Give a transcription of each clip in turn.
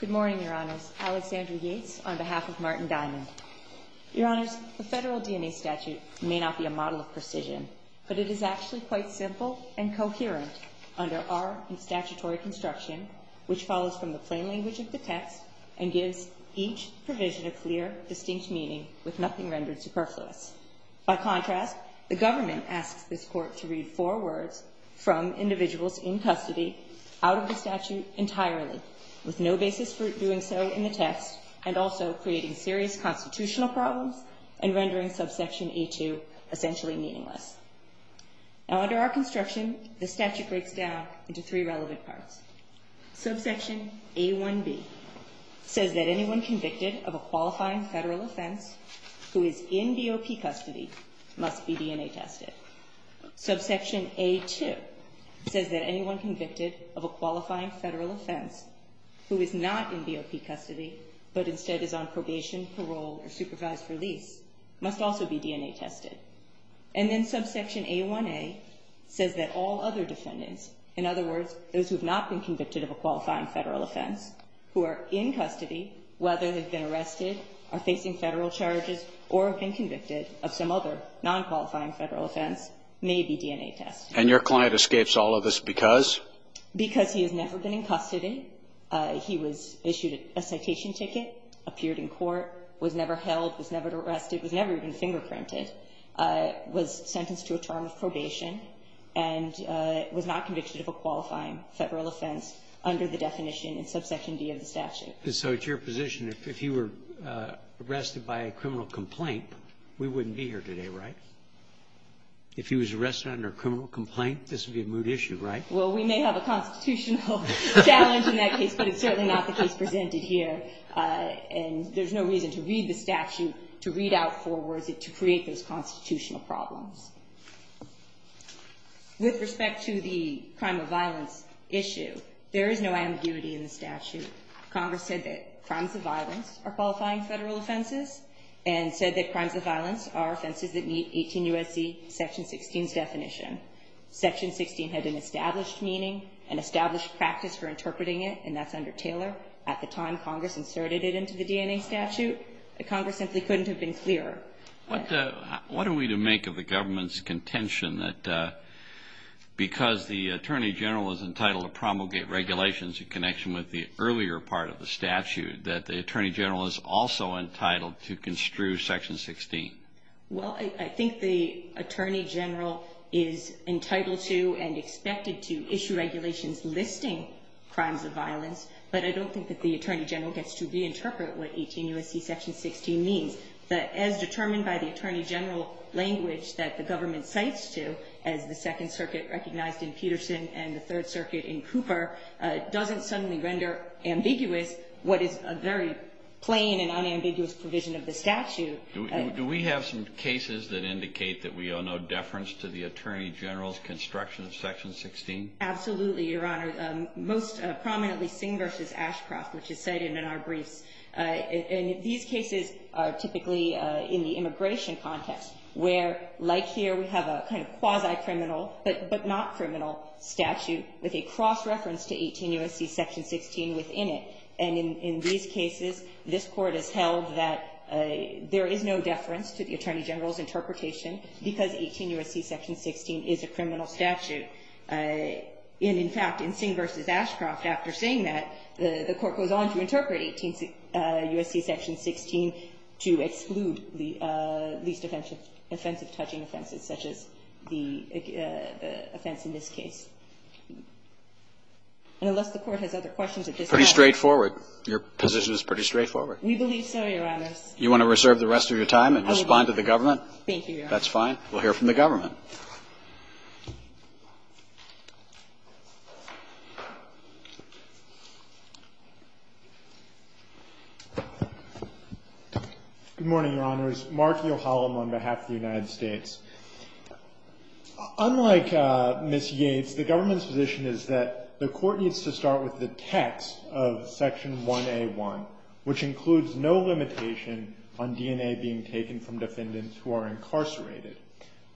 Good morning, Your Honors. Alexandra Yates on behalf of Martin Diamond. Your Honors, the federal DNA statute may not be a model of precision, but it is actually quite simple and coherent under our statutory construction, which follows from the plain language of the text and gives each provision a clear, distinct meaning with nothing rendered superfluous. By contrast, the government asks this Court to read four words from individuals in custody out of the statute entirely with no basis for doing so in the text and also creating serious constitutional problems and rendering subsection a2 essentially meaningless. Now under our construction, the statute breaks down into three relevant parts. Subsection a1b says that anyone convicted of a qualifying federal offense who is in DOP custody must be DNA tested. Subsection a2 says that anyone convicted of a qualifying federal offense who is not in DOP custody but instead is on probation, parole, or supervised release must also be DNA tested. And then subsection a1a says that all other defendants, in other words, those who have not been convicted of a qualifying federal offense who are in custody, whether they've been arrested, are facing federal charges, or have been convicted of some other nonqualifying federal offense may be DNA tested. And your client escapes all of this because? Because he has never been in custody. He was issued a citation ticket, appeared in court, was never held, was never arrested, was never even fingerprinted, was sentenced to a term of probation, and was not convicted of a qualifying federal offense under the definition in subsection d of the statute. And so it's your position, if he were arrested by a criminal complaint, we wouldn't be here today, right? If he was arrested under a criminal complaint, this would be a moot issue, right? Well, we may have a constitutional challenge in that case, but it's certainly not the case presented here. And there's no reason to read the statute, to read out four words, to create those constitutional problems. With respect to the crime of violence issue, there is no ambiguity in the statute. Congress said that crimes of violence are qualifying federal offenses and said that crimes of violence are offenses that meet 18 U.S.C. section 16's definition. Section 16 had an established meaning, an established practice for interpreting it, and that's under Taylor. At the time Congress inserted it into the DNA statute, Congress simply couldn't have been clearer. What are we to make of the government's contention that because the Attorney General is entitled to promulgate regulations in connection with the earlier part of the statute, that the Attorney General is also entitled to construe section 16? Well, I think the Attorney General is entitled to and expected to issue regulations listing crimes of violence, but I don't think that the Attorney General gets to reinterpret what 18 U.S.C. section 16 means. But as determined by the Attorney General language that the government cites to, as the Second Circuit recognized in Peterson and the Third Circuit in Cooper, doesn't suddenly render ambiguous what is a very plain and unambiguous provision of the statute. Do we have some cases that indicate that we owe no deference to the Attorney General's construction of section 16? Absolutely, Your Honor. Most prominently Singh v. Ashcroft, which is cited in our briefs. These cases are typically in the immigration context, where, like here, we have a kind of quasi-criminal but not criminal statute with a cross-reference to 18 U.S.C. section 16 within it. And in these cases, this Court has held that there is no deference to the Attorney General's interpretation because 18 U.S.C. section 16 is a criminal statute. And in fact, in Singh v. Ashcroft, after saying that, the Court goes on to interpret 18 U.S.C. section 16 to exclude the least offensive touching offenses such as the offense in this case. And unless the Court has other questions at this time. Pretty straightforward. Your position is pretty straightforward. We believe so, Your Honor. You want to reserve the rest of your time and respond to the government? Thank you, Your Honor. That's fine. We'll hear from the government. Good morning, Your Honors. Mark Yohalam on behalf of the United States. Unlike Ms. Yates, the government's position is that the Court needs to start with the text of section 1A.1, which includes no limitation on DNA being taken from defendants who are incarcerated.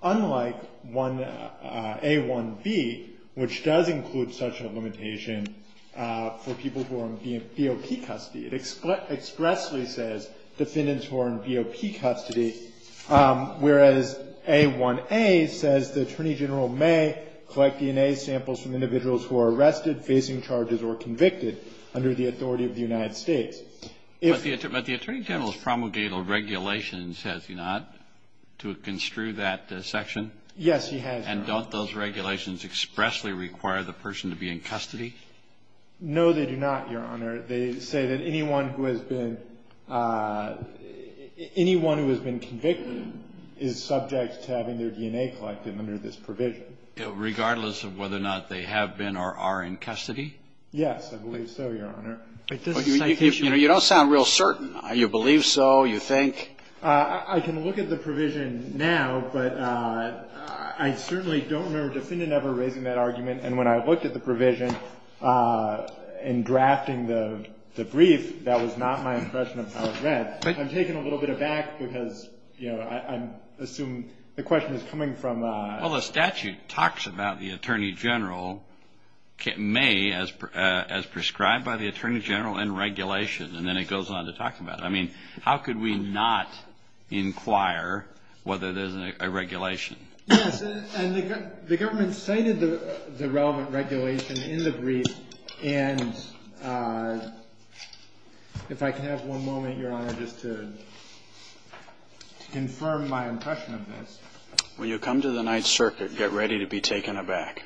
Unlike 1A.1b, which does include such a limitation for people who are in BOP custody. It expressly says defendants who are in BOP custody, whereas 1A.1a says the Attorney General may collect DNA samples from individuals who are arrested, facing charges, or convicted under the authority of the United States. But the Attorney General's promulgated regulations, has he not, to construe that section? Yes, he has, Your Honor. And don't those regulations expressly require the person to be in custody? No, they do not, Your Honor. They say that anyone who has been convicted is subject to having their DNA collected under this provision. Regardless of whether or not they have been or are in custody? Yes, I believe so, Your Honor. You know, you don't sound real certain. You believe so? You think? I can look at the provision now, but I certainly don't remember a defendant ever raising that argument. And when I looked at the provision in drafting the brief, that was not my impression of how it read. I'm taking a little bit of back, because, you know, I assume the question is coming from — Well, the statute talks about the Attorney General may, as prescribed by the Attorney General, end regulation, and then it goes on to talk about it. I mean, how could we not inquire whether there's a regulation? Yes, and the government cited the relevant regulation in the brief. And if I can have one moment, Your Honor, just to confirm my impression of this. When you come to the Ninth Circuit, get ready to be taken aback.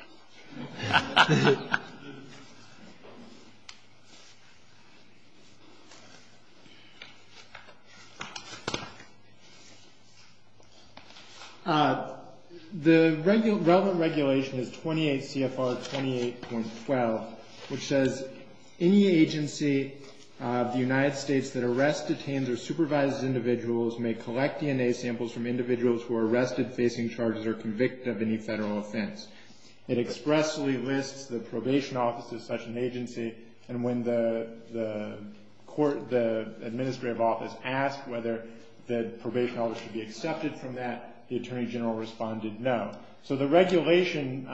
The relevant regulation is 28 CFR 28.12, which says, any agency of the United States that arrests, detains, or supervises individuals may collect DNA samples from individuals who are arrested, facing charges, or convicted of any Federal offense. It expressly lists the probation office as such an agency, and when the court, the administrative office asked whether the probation office should be accepted from that, the Attorney General responded no. So the regulation,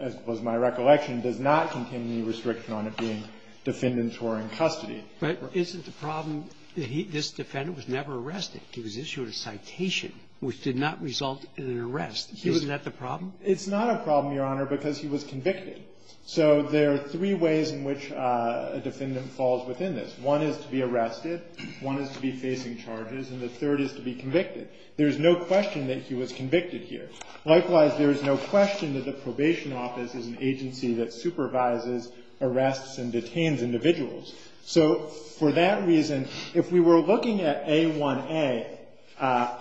as was my recollection, does not contain any restriction on it being defendants who are in custody. But isn't the problem that this defendant was never arrested? He was issued a citation, which did not result in an arrest. Isn't that the problem? It's not a problem, Your Honor, because he was convicted. So there are three ways in which a defendant falls within this. One is to be arrested, one is to be facing charges, and the third is to be convicted. There is no question that he was convicted here. Likewise, there is no question that the probation office is an agency that supervises, arrests, and detains individuals. So for that reason, if we were looking at A1A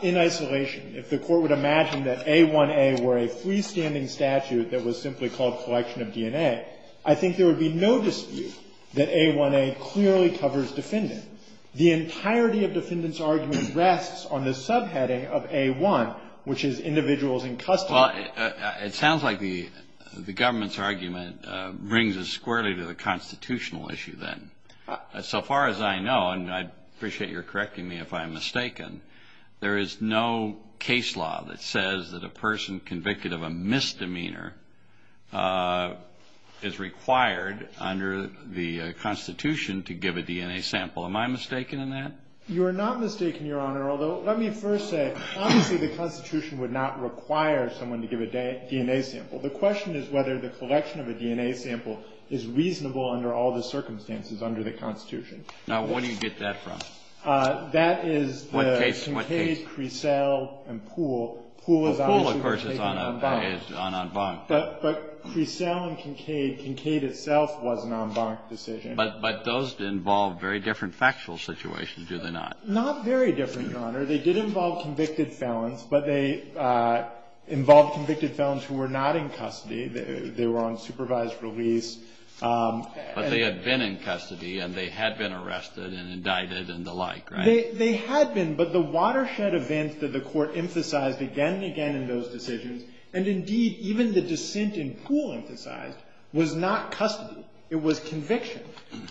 in isolation, if the court would imagine that A1A were a freestanding statute that was simply called collection of DNA, I think there would be no dispute that A1A clearly covers defendant. The entirety of defendant's argument rests on the subheading of A1, which is individuals in custody. Well, it sounds like the government's argument brings us squarely to the constitutional issue then. So far as I know, and I appreciate your correcting me if I'm mistaken, there is no case law that says that a person convicted of a misdemeanor is required under the Constitution to give a DNA sample. Am I mistaken in that? You are not mistaken, Your Honor, although let me first say, obviously the Constitution would not require someone to give a DNA sample. The question is whether the collection of a DNA sample is reasonable under all the circumstances under the Constitution. Now, where do you get that from? That is the Kincaid, Crecel, and Poole. Poole, of course, is on en banc. But Crecel and Kincaid, Kincaid itself was an en banc decision. But those involve very different factual situations, do they not? Not very different, Your Honor. They did involve convicted felons, but they involved convicted felons who were not in custody. They were on supervised release. But they had been in custody, and they had been arrested and indicted and the like, right? They had been, but the watershed events that the court emphasized again and again in those decisions, and indeed even the dissent in Poole emphasized, was not custody. It was conviction.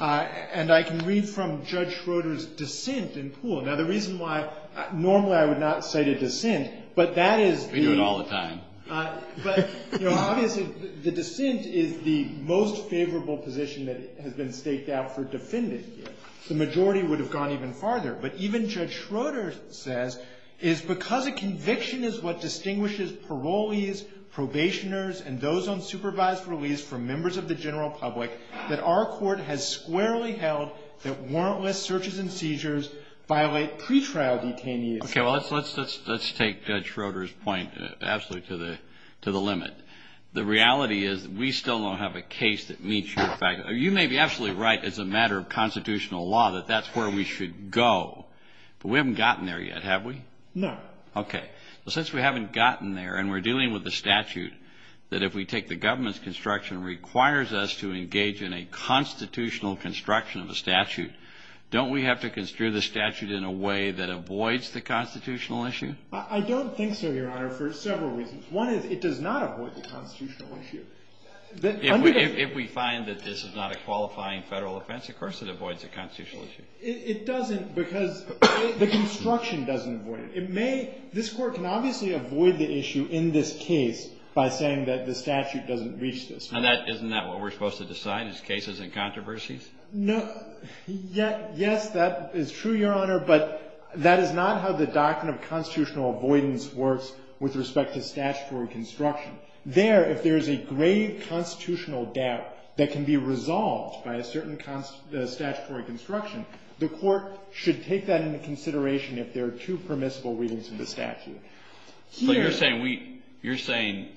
And I can read from Judge Schroeder's dissent in Poole. Now, the reason why, normally I would not cite a dissent, but that is the. We do it all the time. But, you know, obviously the dissent is the most favorable position that has been staked out for defendant here. The majority would have gone even farther. But even Judge Schroeder says, is because a conviction is what distinguishes parolees, probationers, and those on supervised release from members of the general public, that our court has squarely held that warrantless searches and seizures violate pretrial detainees. Okay, well, let's take Judge Schroeder's point absolutely to the limit. The reality is we still don't have a case that meets your fact. You may be absolutely right as a matter of constitutional law that that's where we should go. But we haven't gotten there yet, have we? No. Okay. Well, since we haven't gotten there, and we're dealing with a statute that if we take the government's requires us to engage in a constitutional construction of a statute. Don't we have to construe the statute in a way that avoids the constitutional issue? I don't think so, Your Honor, for several reasons. One is it does not avoid the constitutional issue. If we find that this is not a qualifying federal offense, of course it avoids the constitutional issue. It doesn't because the construction doesn't avoid it. This Court can obviously avoid the issue in this case by saying that the statute doesn't reach this. Isn't that what we're supposed to decide, is cases and controversies? No. Yes, that is true, Your Honor, but that is not how the doctrine of constitutional avoidance works with respect to statutory construction. There, if there is a grave constitutional doubt that can be resolved by a certain statutory construction, the Court should take that into consideration if there are two permissible readings in the statute. So you're saying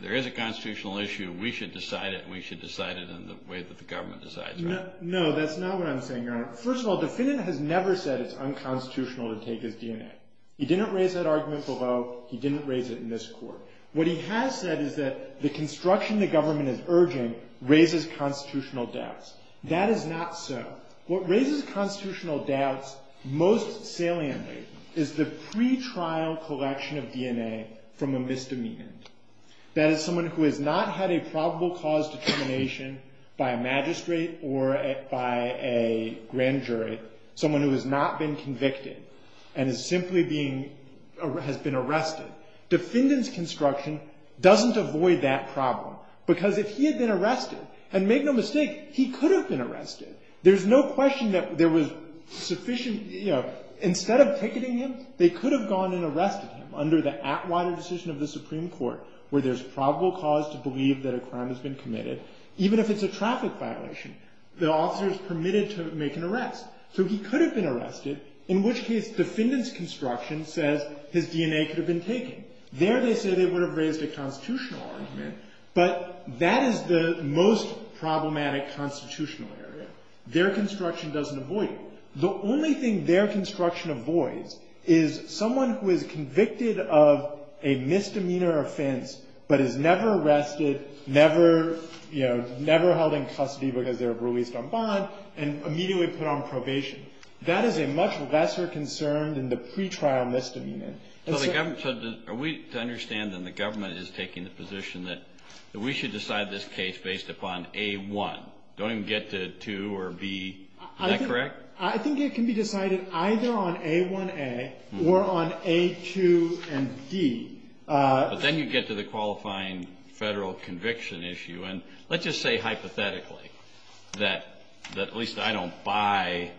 there is a constitutional issue. We should decide it, and we should decide it in the way that the government decides, right? No, that's not what I'm saying, Your Honor. First of all, the defendant has never said it's unconstitutional to take his DNA. He didn't raise that argument below. He didn't raise it in this Court. What he has said is that the construction the government is urging raises constitutional doubts. That is not so. What raises constitutional doubts most saliently is the pretrial collection of DNA from a misdemeanor. That is someone who has not had a probable cause determination by a magistrate or by a grand jury, someone who has not been convicted and has simply been arrested. Defendant's construction doesn't avoid that problem because if he had been arrested, and make no mistake, he could have been arrested. There's no question that there was sufficient, you know, instead of picketing him, they could have gone and arrested him under the Atwater decision of the Supreme Court, where there's probable cause to believe that a crime has been committed, even if it's a traffic violation. The officer is permitted to make an arrest, so he could have been arrested, in which case defendant's construction says his DNA could have been taken. There they say they would have raised a constitutional argument, but that is the most problematic constitutional area. Their construction doesn't avoid it. The only thing their construction avoids is someone who is convicted of a misdemeanor offense but is never arrested, never, you know, never held in custody because they were released on bond, and immediately put on probation. That is a much lesser concern than the pretrial misdemeanor. So are we to understand that the government is taking the position that we should decide this case based upon A1? Don't even get to 2 or B? Is that correct? I think it can be decided either on A1A or on A2 and D. But then you get to the qualifying federal conviction issue. And let's just say hypothetically that at least I don't buy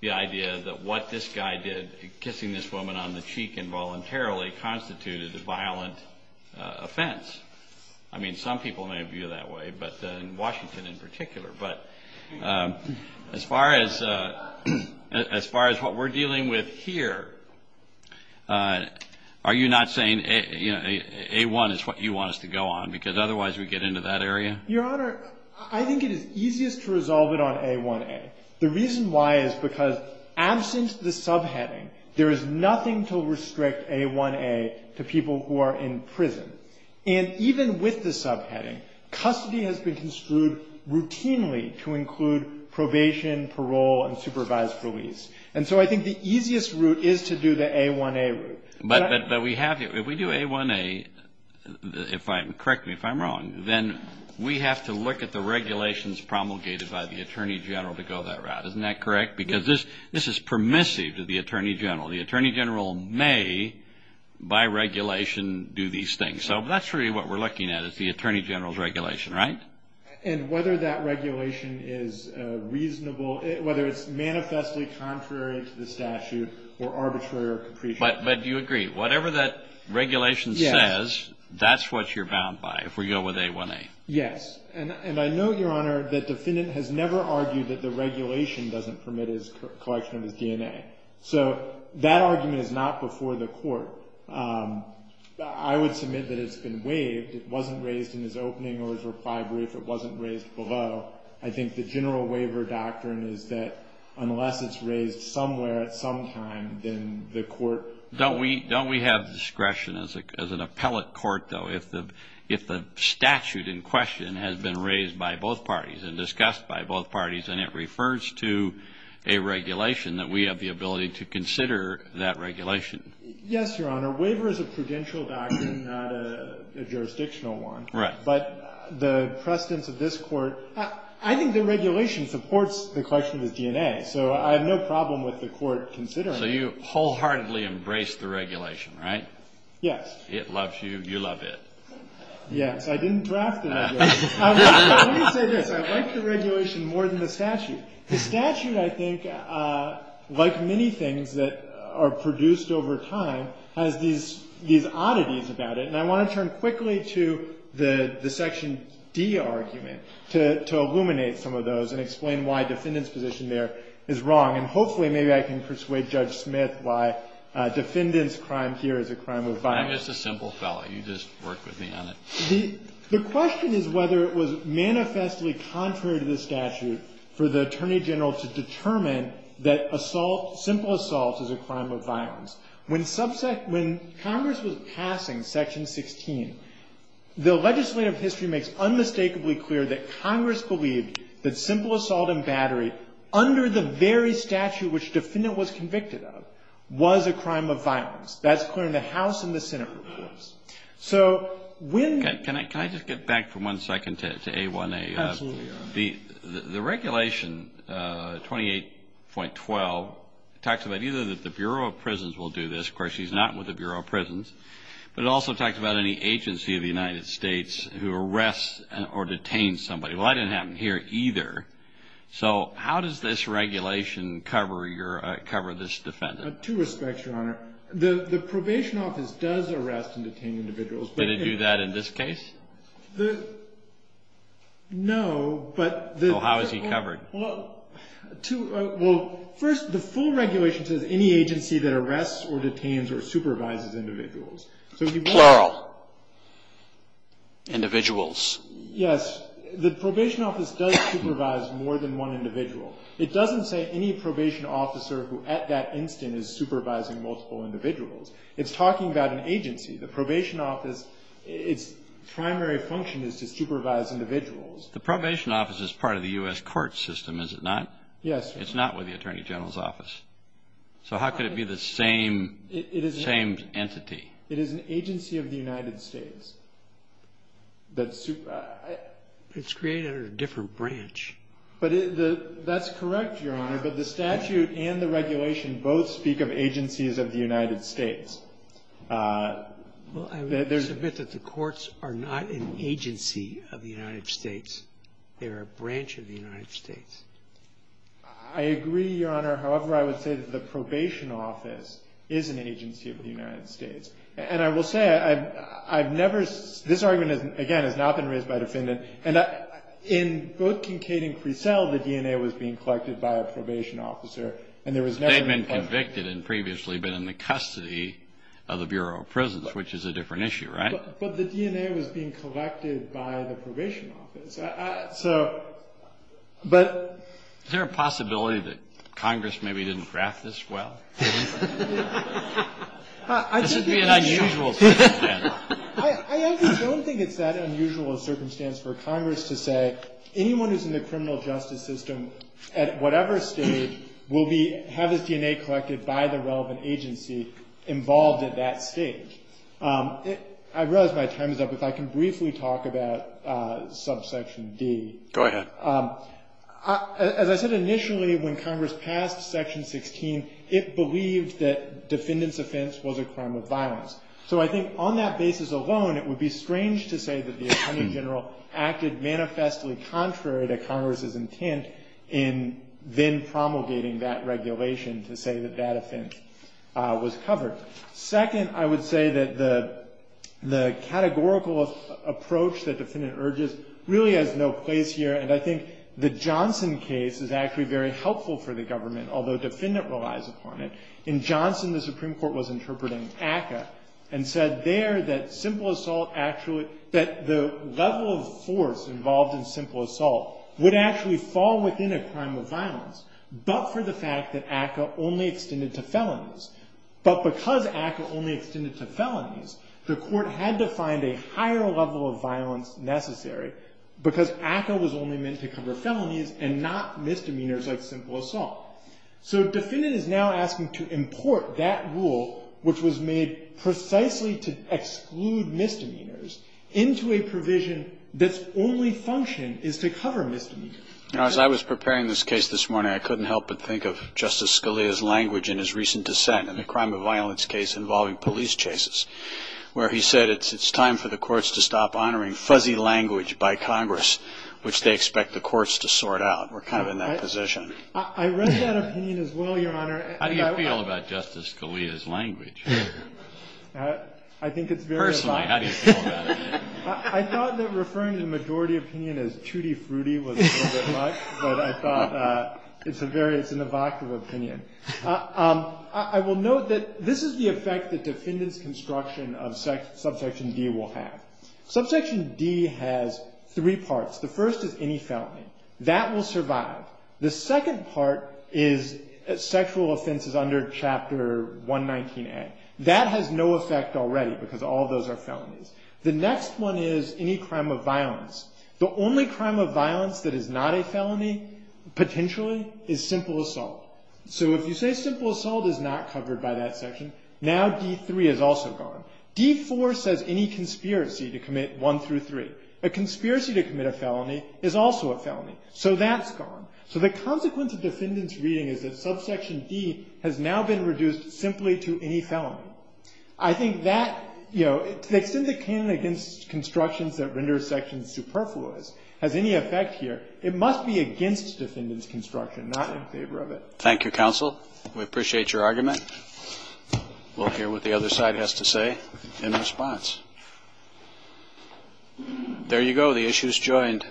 the idea that what this guy did, kissing this woman on the cheek involuntarily, constituted a violent offense. I mean, some people may view it that way, but in Washington in particular. But as far as what we're dealing with here, are you not saying A1 is what you want us to go on? Because otherwise we get into that area? Your Honor, I think it is easiest to resolve it on A1A. The reason why is because absent the subheading, there is nothing to restrict A1A to people who are in prison. And even with the subheading, custody has been construed routinely to include probation, parole, and supervised release. And so I think the easiest route is to do the A1A route. But we have to. If we do A1A, correct me if I'm wrong, then we have to look at the regulations promulgated by the Attorney General to go that route. Isn't that correct? Because this is permissive to the Attorney General. The Attorney General may, by regulation, do these things. So that's really what we're looking at is the Attorney General's regulation, right? And whether that regulation is reasonable, whether it's manifestly contrary to the statute or arbitrary or capricious. But do you agree? Whatever that regulation says, that's what you're bound by. If we go with A1A. Yes. And I note, Your Honor, that the defendant has never argued that the regulation doesn't permit his collection of his DNA. So that argument is not before the court. I would submit that it's been waived. It wasn't raised in his opening or his reply brief. It wasn't raised below. I think the general waiver doctrine is that unless it's raised somewhere at some time, then the court. Don't we have discretion as an appellate court, though? If the statute in question has been raised by both parties and discussed by both parties and it refers to a regulation, that we have the ability to consider that regulation. Yes, Your Honor. Waiver is a prudential doctrine, not a jurisdictional one. Right. But the precedence of this Court, I think the regulation supports the collection of his DNA. So I have no problem with the Court considering it. So you wholeheartedly embrace the regulation, right? Yes. It loves you. You love it. Yes. I didn't draft it. Let me say this. I like the regulation more than the statute. The statute, I think, like many things that are produced over time, has these oddities about it. And I want to turn quickly to the Section D argument to illuminate some of those and explain why defendant's position there is wrong. And hopefully maybe I can persuade Judge Smith why defendant's crime here is a crime of violence. I'm just a simple fellow. You just work with me on it. The question is whether it was manifestly contrary to the statute for the Attorney General to determine that assault, simple assault, is a crime of violence. When Congress was passing Section 16, the legislative history makes unmistakably clear that Congress believed that simple assault and battery under the very statute which defendant was convicted of was a crime of violence. That's clear in the House and the Senate reports. Can I just get back for one second to A1A? Absolutely, Your Honor. The regulation, 28.12, talks about either that the Bureau of Prisons will do this. Of course, he's not with the Bureau of Prisons. But it also talks about any agency of the United States who arrests or detains somebody. Well, that didn't happen here either. So how does this regulation cover this defendant? To respect, Your Honor, the probation office does arrest and detain individuals. Did it do that in this case? No, but the ---- Well, how is he covered? Well, first, the full regulation says any agency that arrests or detains or supervises individuals. Plural. Individuals. Yes. The probation office does supervise more than one individual. It doesn't say any probation officer who at that instant is supervising multiple individuals. It's talking about an agency. The probation office, its primary function is to supervise individuals. The probation office is part of the U.S. court system, is it not? Yes. It's not with the Attorney General's office. So how could it be the same entity? It is an agency of the United States. It's created under a different branch. But the ---- That's correct, Your Honor. But the statute and the regulation both speak of agencies of the United States. Well, I would submit that the courts are not an agency of the United States. They are a branch of the United States. I agree, Your Honor. However, I would say that the probation office is an agency of the United States. And I will say I've never ---- this argument, again, has not been raised by a defendant. And in both Kincaid and Cresel, the DNA was being collected by a probation officer. And there was never ---- They'd been convicted and previously been in the custody of the Bureau of Prisons, which is a different issue, right? But the DNA was being collected by the probation office. So, but ---- Is there a possibility that Congress maybe didn't draft this well? This would be an unusual circumstance. I actually don't think it's that unusual a circumstance for Congress to say anyone who's in the criminal justice system, at whatever stage, will be ---- have his DNA collected by the relevant agency involved at that stage. I realize my time is up. If I can briefly talk about subsection D. Go ahead. As I said initially, when Congress passed section 16, it believed that defendant's offense was a crime of violence. So I think on that basis alone, it would be strange to say that the attorney general acted manifestly contrary to Congress' intent in then promulgating that regulation to say that that offense was covered. Second, I would say that the categorical approach that defendant urges really has no place here. And I think the Johnson case is actually very helpful for the government, although defendant relies upon it. In Johnson, the Supreme Court was interpreting ACCA and said there that simple assault actually ---- that the level of force involved in simple assault would actually fall within a crime of violence, but for the fact that ACCA only extended to felonies. But because ACCA only extended to felonies, the court had to find a higher level of violence necessary because ACCA was only meant to cover felonies and not misdemeanors like simple assault. So defendant is now asking to import that rule, which was made precisely to exclude misdemeanors, into a provision that's only function is to cover misdemeanor. Kennedy. You know, as I was preparing this case this morning, I couldn't help but think of Justice Scalia's language in his recent dissent in the crime of violence case involving police chases, where he said it's time for the courts to stop honoring fuzzy language by Congress, which they expect the courts to sort out. We're kind of in that position. I read that opinion as well, Your Honor. How do you feel about Justice Scalia's language? I think it's very evocative. Personally, how do you feel about it? I thought that referring to the majority opinion as tutti frutti was a little bit much, but I thought it's a very ---- it's an evocative opinion. I will note that this is the effect that defendant's construction of subsection D will have. Subsection D has three parts. The first is any felony. That will survive. The second part is sexual offenses under Chapter 119A. That has no effect already because all those are felonies. The next one is any crime of violence. The only crime of violence that is not a felony, potentially, is simple assault. So if you say simple assault is not covered by that section, now D3 is also gone. D4 says any conspiracy to commit 1 through 3. A conspiracy to commit a felony is also a felony. So that's gone. So the consequence of defendant's reading is that subsection D has now been reduced simply to any felony. I think that, you know, to the extent that canon against constructions that render sections superfluous has any effect here, it must be against defendant's construction, not in favor of it. Thank you, counsel. We appreciate your argument. We'll hear what the other side has to say in response. There you go. The issue is joined.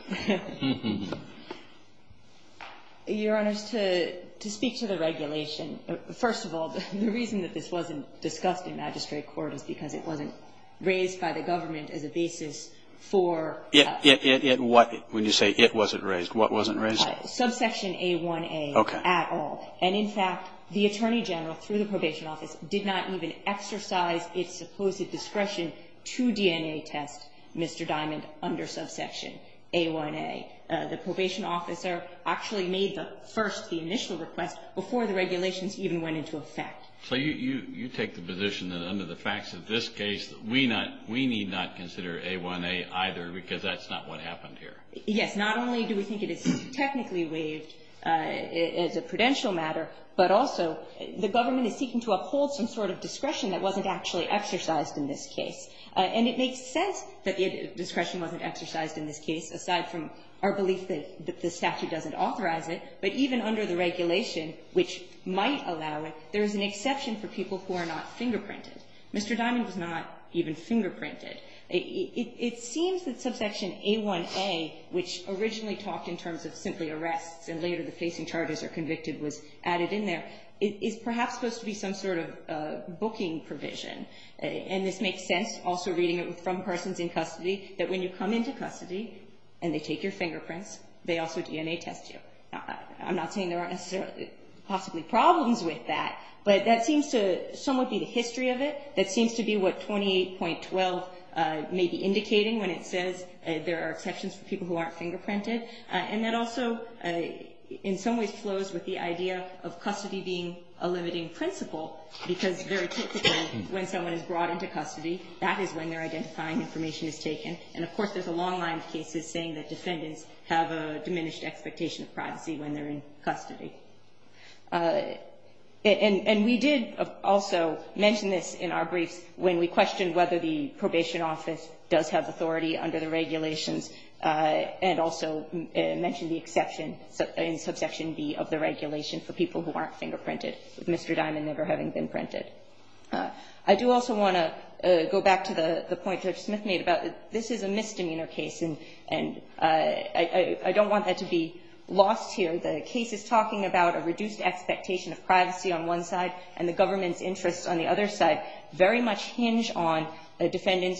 Your Honor, to speak to the regulation, first of all, the reason that this wasn't discussed in magistrate court is because it wasn't raised by the government as a basis for the statute. It wasn't. When you say it wasn't raised, what wasn't raised? Subsection A1A at all. Okay. And in fact, the Attorney General, through the probation office, did not even exercise its supposed discretion to DNA test Mr. Diamond under subsection A1A. The probation officer actually made the first, the initial request before the regulations even went into effect. So you take the position that under the facts of this case, we need not consider A1A either because that's not what happened here? Yes. Not only do we think it is technically waived as a prudential matter, but also the discretion wasn't actually exercised in this case. And it makes sense that the discretion wasn't exercised in this case, aside from our belief that the statute doesn't authorize it. But even under the regulation, which might allow it, there is an exception for people who are not fingerprinted. Mr. Diamond was not even fingerprinted. It seems that subsection A1A, which originally talked in terms of simply arrests and later the facing charges or convicted was added in there, is perhaps supposed to be some sort of booking provision. And this makes sense, also reading it from persons in custody, that when you come into custody and they take your fingerprints, they also DNA test you. I'm not saying there aren't necessarily possibly problems with that, but that seems to somewhat be the history of it. That seems to be what 28.12 may be indicating when it says there are exceptions for people who aren't fingerprinted. And that also in some ways flows with the idea of custody being a limiting principle because very typically when someone is brought into custody, that is when they're identifying information is taken. And, of course, there's a long line of cases saying that defendants have a diminished expectation of privacy when they're in custody. And we did also mention this in our briefs when we questioned whether the probation office does have authority under the regulations and also mentioned the exception in Subsection B of the regulation for people who aren't fingerprinted, with Mr. Diamond never having been printed. I do also want to go back to the point Judge Smith made about this is a misdemeanor case, and I don't want that to be lost here. The case is talking about a reduced expectation of privacy on one side and the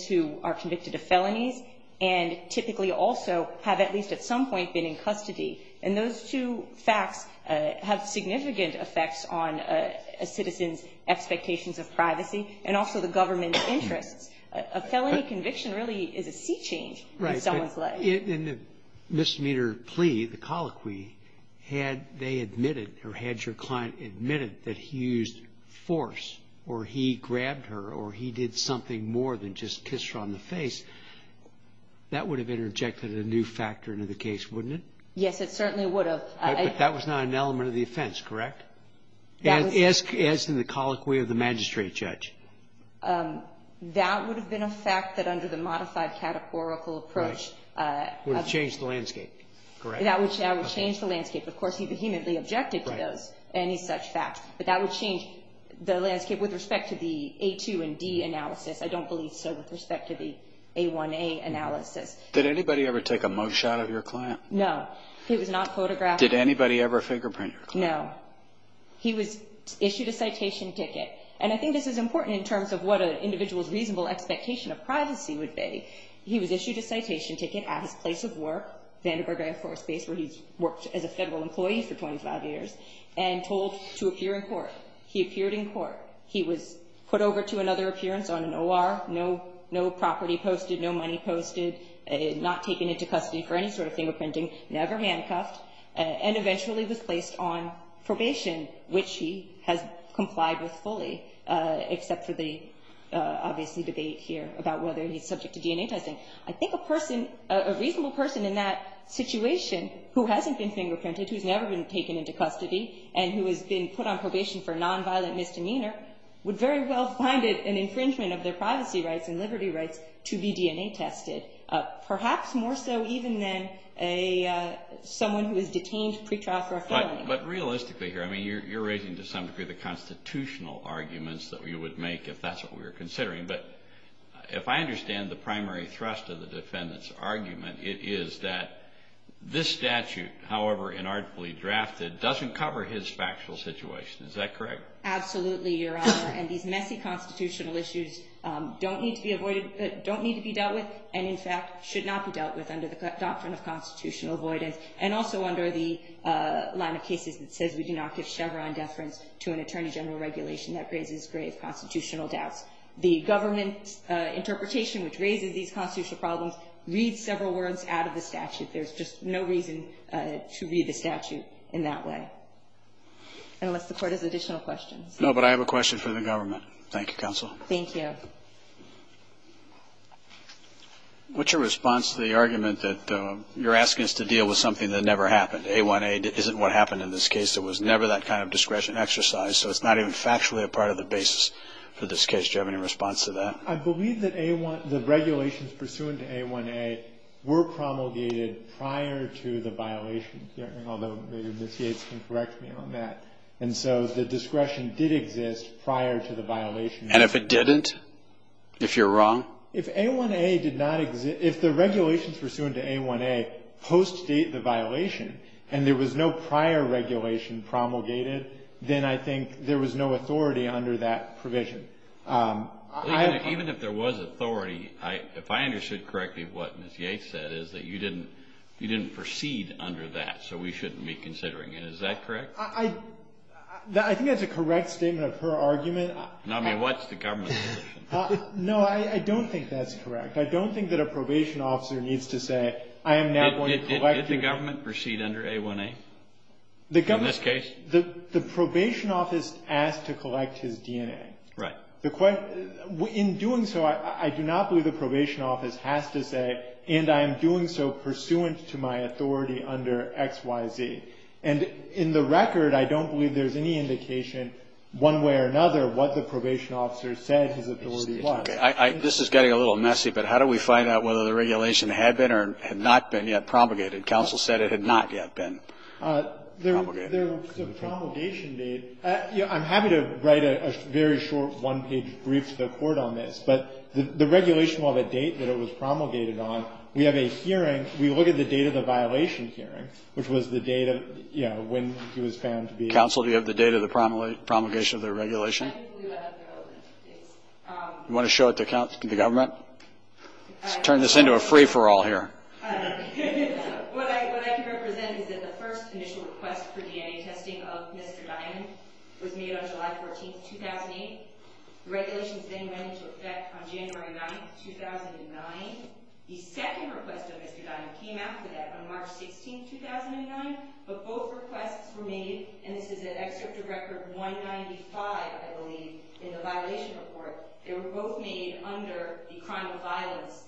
two are convicted of felonies and typically also have at least at some point been in custody. And those two facts have significant effects on a citizen's expectations of privacy and also the government's interests. A felony conviction really is a sea change in someone's life. Right. In the misdemeanor plea, the colloquy, had they admitted or had your client admitted that he used force or he grabbed her or he did something more than just kiss her on the face, that would have interjected a new factor into the case, wouldn't it? Yes, it certainly would have. But that was not an element of the offense, correct? As in the colloquy of the magistrate judge? That would have been a fact that under the modified categorical approach. That would change the landscape. Of course, he vehemently objected to any such fact. But that would change the landscape with respect to the A2 and D analysis. I don't believe so with respect to the A1A analysis. Did anybody ever take a mug shot of your client? No. He was not photographed. Did anybody ever fingerprint your client? No. He was issued a citation ticket. And I think this is important in terms of what an individual's reasonable expectation of privacy would be. He was issued a citation ticket at his place of work, Vandenberg Air Force Base, where he's worked as a federal employee for 25 years, and told to appear in court. He appeared in court. He was put over to another appearance on an OR, no property posted, no money posted, not taken into custody for any sort of fingerprinting, never handcuffed, and eventually was placed on probation, which he has complied with fully, except for the, obviously, debate here about whether he's subject to DNA testing. I think a person, a reasonable person in that situation who hasn't been fingerprinted, who's never been taken into custody, and who has been put on probation for nonviolent misdemeanor, would very well find it an infringement of their privacy rights and liberty rights to be DNA tested, perhaps more so even than someone who is detained pretrial for a felony. But realistically here, I mean, you're raising to some degree the constitutional arguments that we would make if that's what we were considering. But if I understand the primary thrust of the defendant's argument, it is that this statute, however inarticulately drafted, doesn't cover his factual situation. Is that correct? Absolutely, Your Honor. And these messy constitutional issues don't need to be avoided, don't need to be dealt with, and in fact should not be dealt with under the doctrine of constitutional avoidance, and also under the line of cases that says we do not give Chevron deference to an attorney general regulation that raises grave constitutional doubts. The government interpretation which raises these constitutional problems reads several words out of the statute. There's just no reason to read the statute in that way, unless the Court has additional questions. No, but I have a question for the government. Thank you, counsel. Thank you. What's your response to the argument that you're asking us to deal with something that never happened? A1A isn't what happened in this case. There was never that kind of discretion exercise, so it's not even factually a part of the basis for this case. Do you have any response to that? I believe that the regulations pursuant to A1A were promulgated prior to the violation, although maybe Ms. Yates can correct me on that. And so the discretion did exist prior to the violation. And if it didn't? If you're wrong? If A1A did not exist, if the regulations pursuant to A1A post-date the violation and there was no prior regulation promulgated, then I think there was no authority under that provision. Even if there was authority, if I understood correctly, what Ms. Yates said is that you didn't proceed under that, so we shouldn't be considering it. Is that correct? I think that's a correct statement of her argument. I mean, what's the government's position? No, I don't think that's correct. I don't think that a probation officer needs to say, I am now going to collect your DNA. Does the government proceed under A1A in this case? The probation office asked to collect his DNA. Right. In doing so, I do not believe the probation office has to say, and I am doing so pursuant to my authority under XYZ. And in the record, I don't believe there's any indication one way or another what the probation officer said his authority was. This is getting a little messy, but how do we find out whether the regulation had been or had not been yet promulgated? Counsel said it had not yet been promulgated. There was a promulgation date. I'm happy to write a very short one-page brief to the Court on this, but the regulation will have a date that it was promulgated on. We have a hearing. We look at the date of the violation hearing, which was the date of, you know, when he was found to be. Counsel, do you have the date of the promulgation of the regulation? I do. You want to show it to the government? Let's turn this into a free-for-all here. What I can represent is that the first initial request for DNA testing of Mr. Dimon was made on July 14, 2008. The regulations then went into effect on January 9, 2009. The second request of Mr. Dimon came after that on March 16, 2009, but both requests were made, and this is at Excerpt of Record 195, I believe, in the violation report. They were both made under the crime of violence,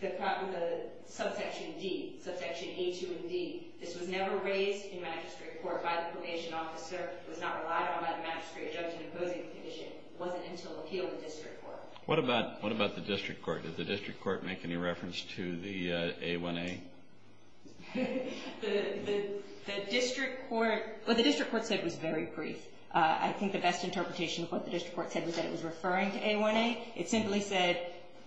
the subsection D, subsection A2 of D. This was never raised in magistrate court by the probation officer. It was not relied on by the magistrate judge in opposing the condition. It wasn't until appeal in district court. What about the district court? Did the district court make any reference to the A1A? The district court, what the district court said was very brief. I think the best interpretation of what the district court said was that it was referring to A1A. It simply said,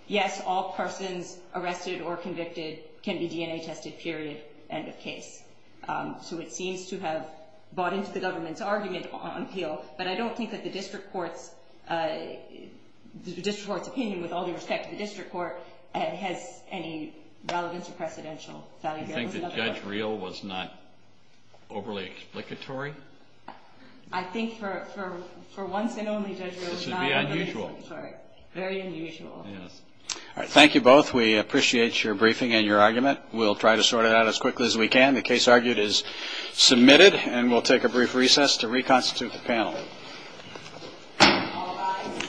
yes, all persons arrested or convicted can be DNA tested, period, end of case. So it seems to have bought into the government's argument on appeal, but I don't think that the district court's opinion, with all due respect to the district court, has any relevance or precedential value. Do you think that Judge Reel was not overly explicatory? I think for once and only, Judge Reel was not. This would be unusual. Sorry. Very unusual. Yes. All right. Thank you both. We appreciate your briefing and your argument. We'll try to sort it out as quickly as we can. The case argued is submitted, and we'll take a brief recess to reconstitute the panel. All rise.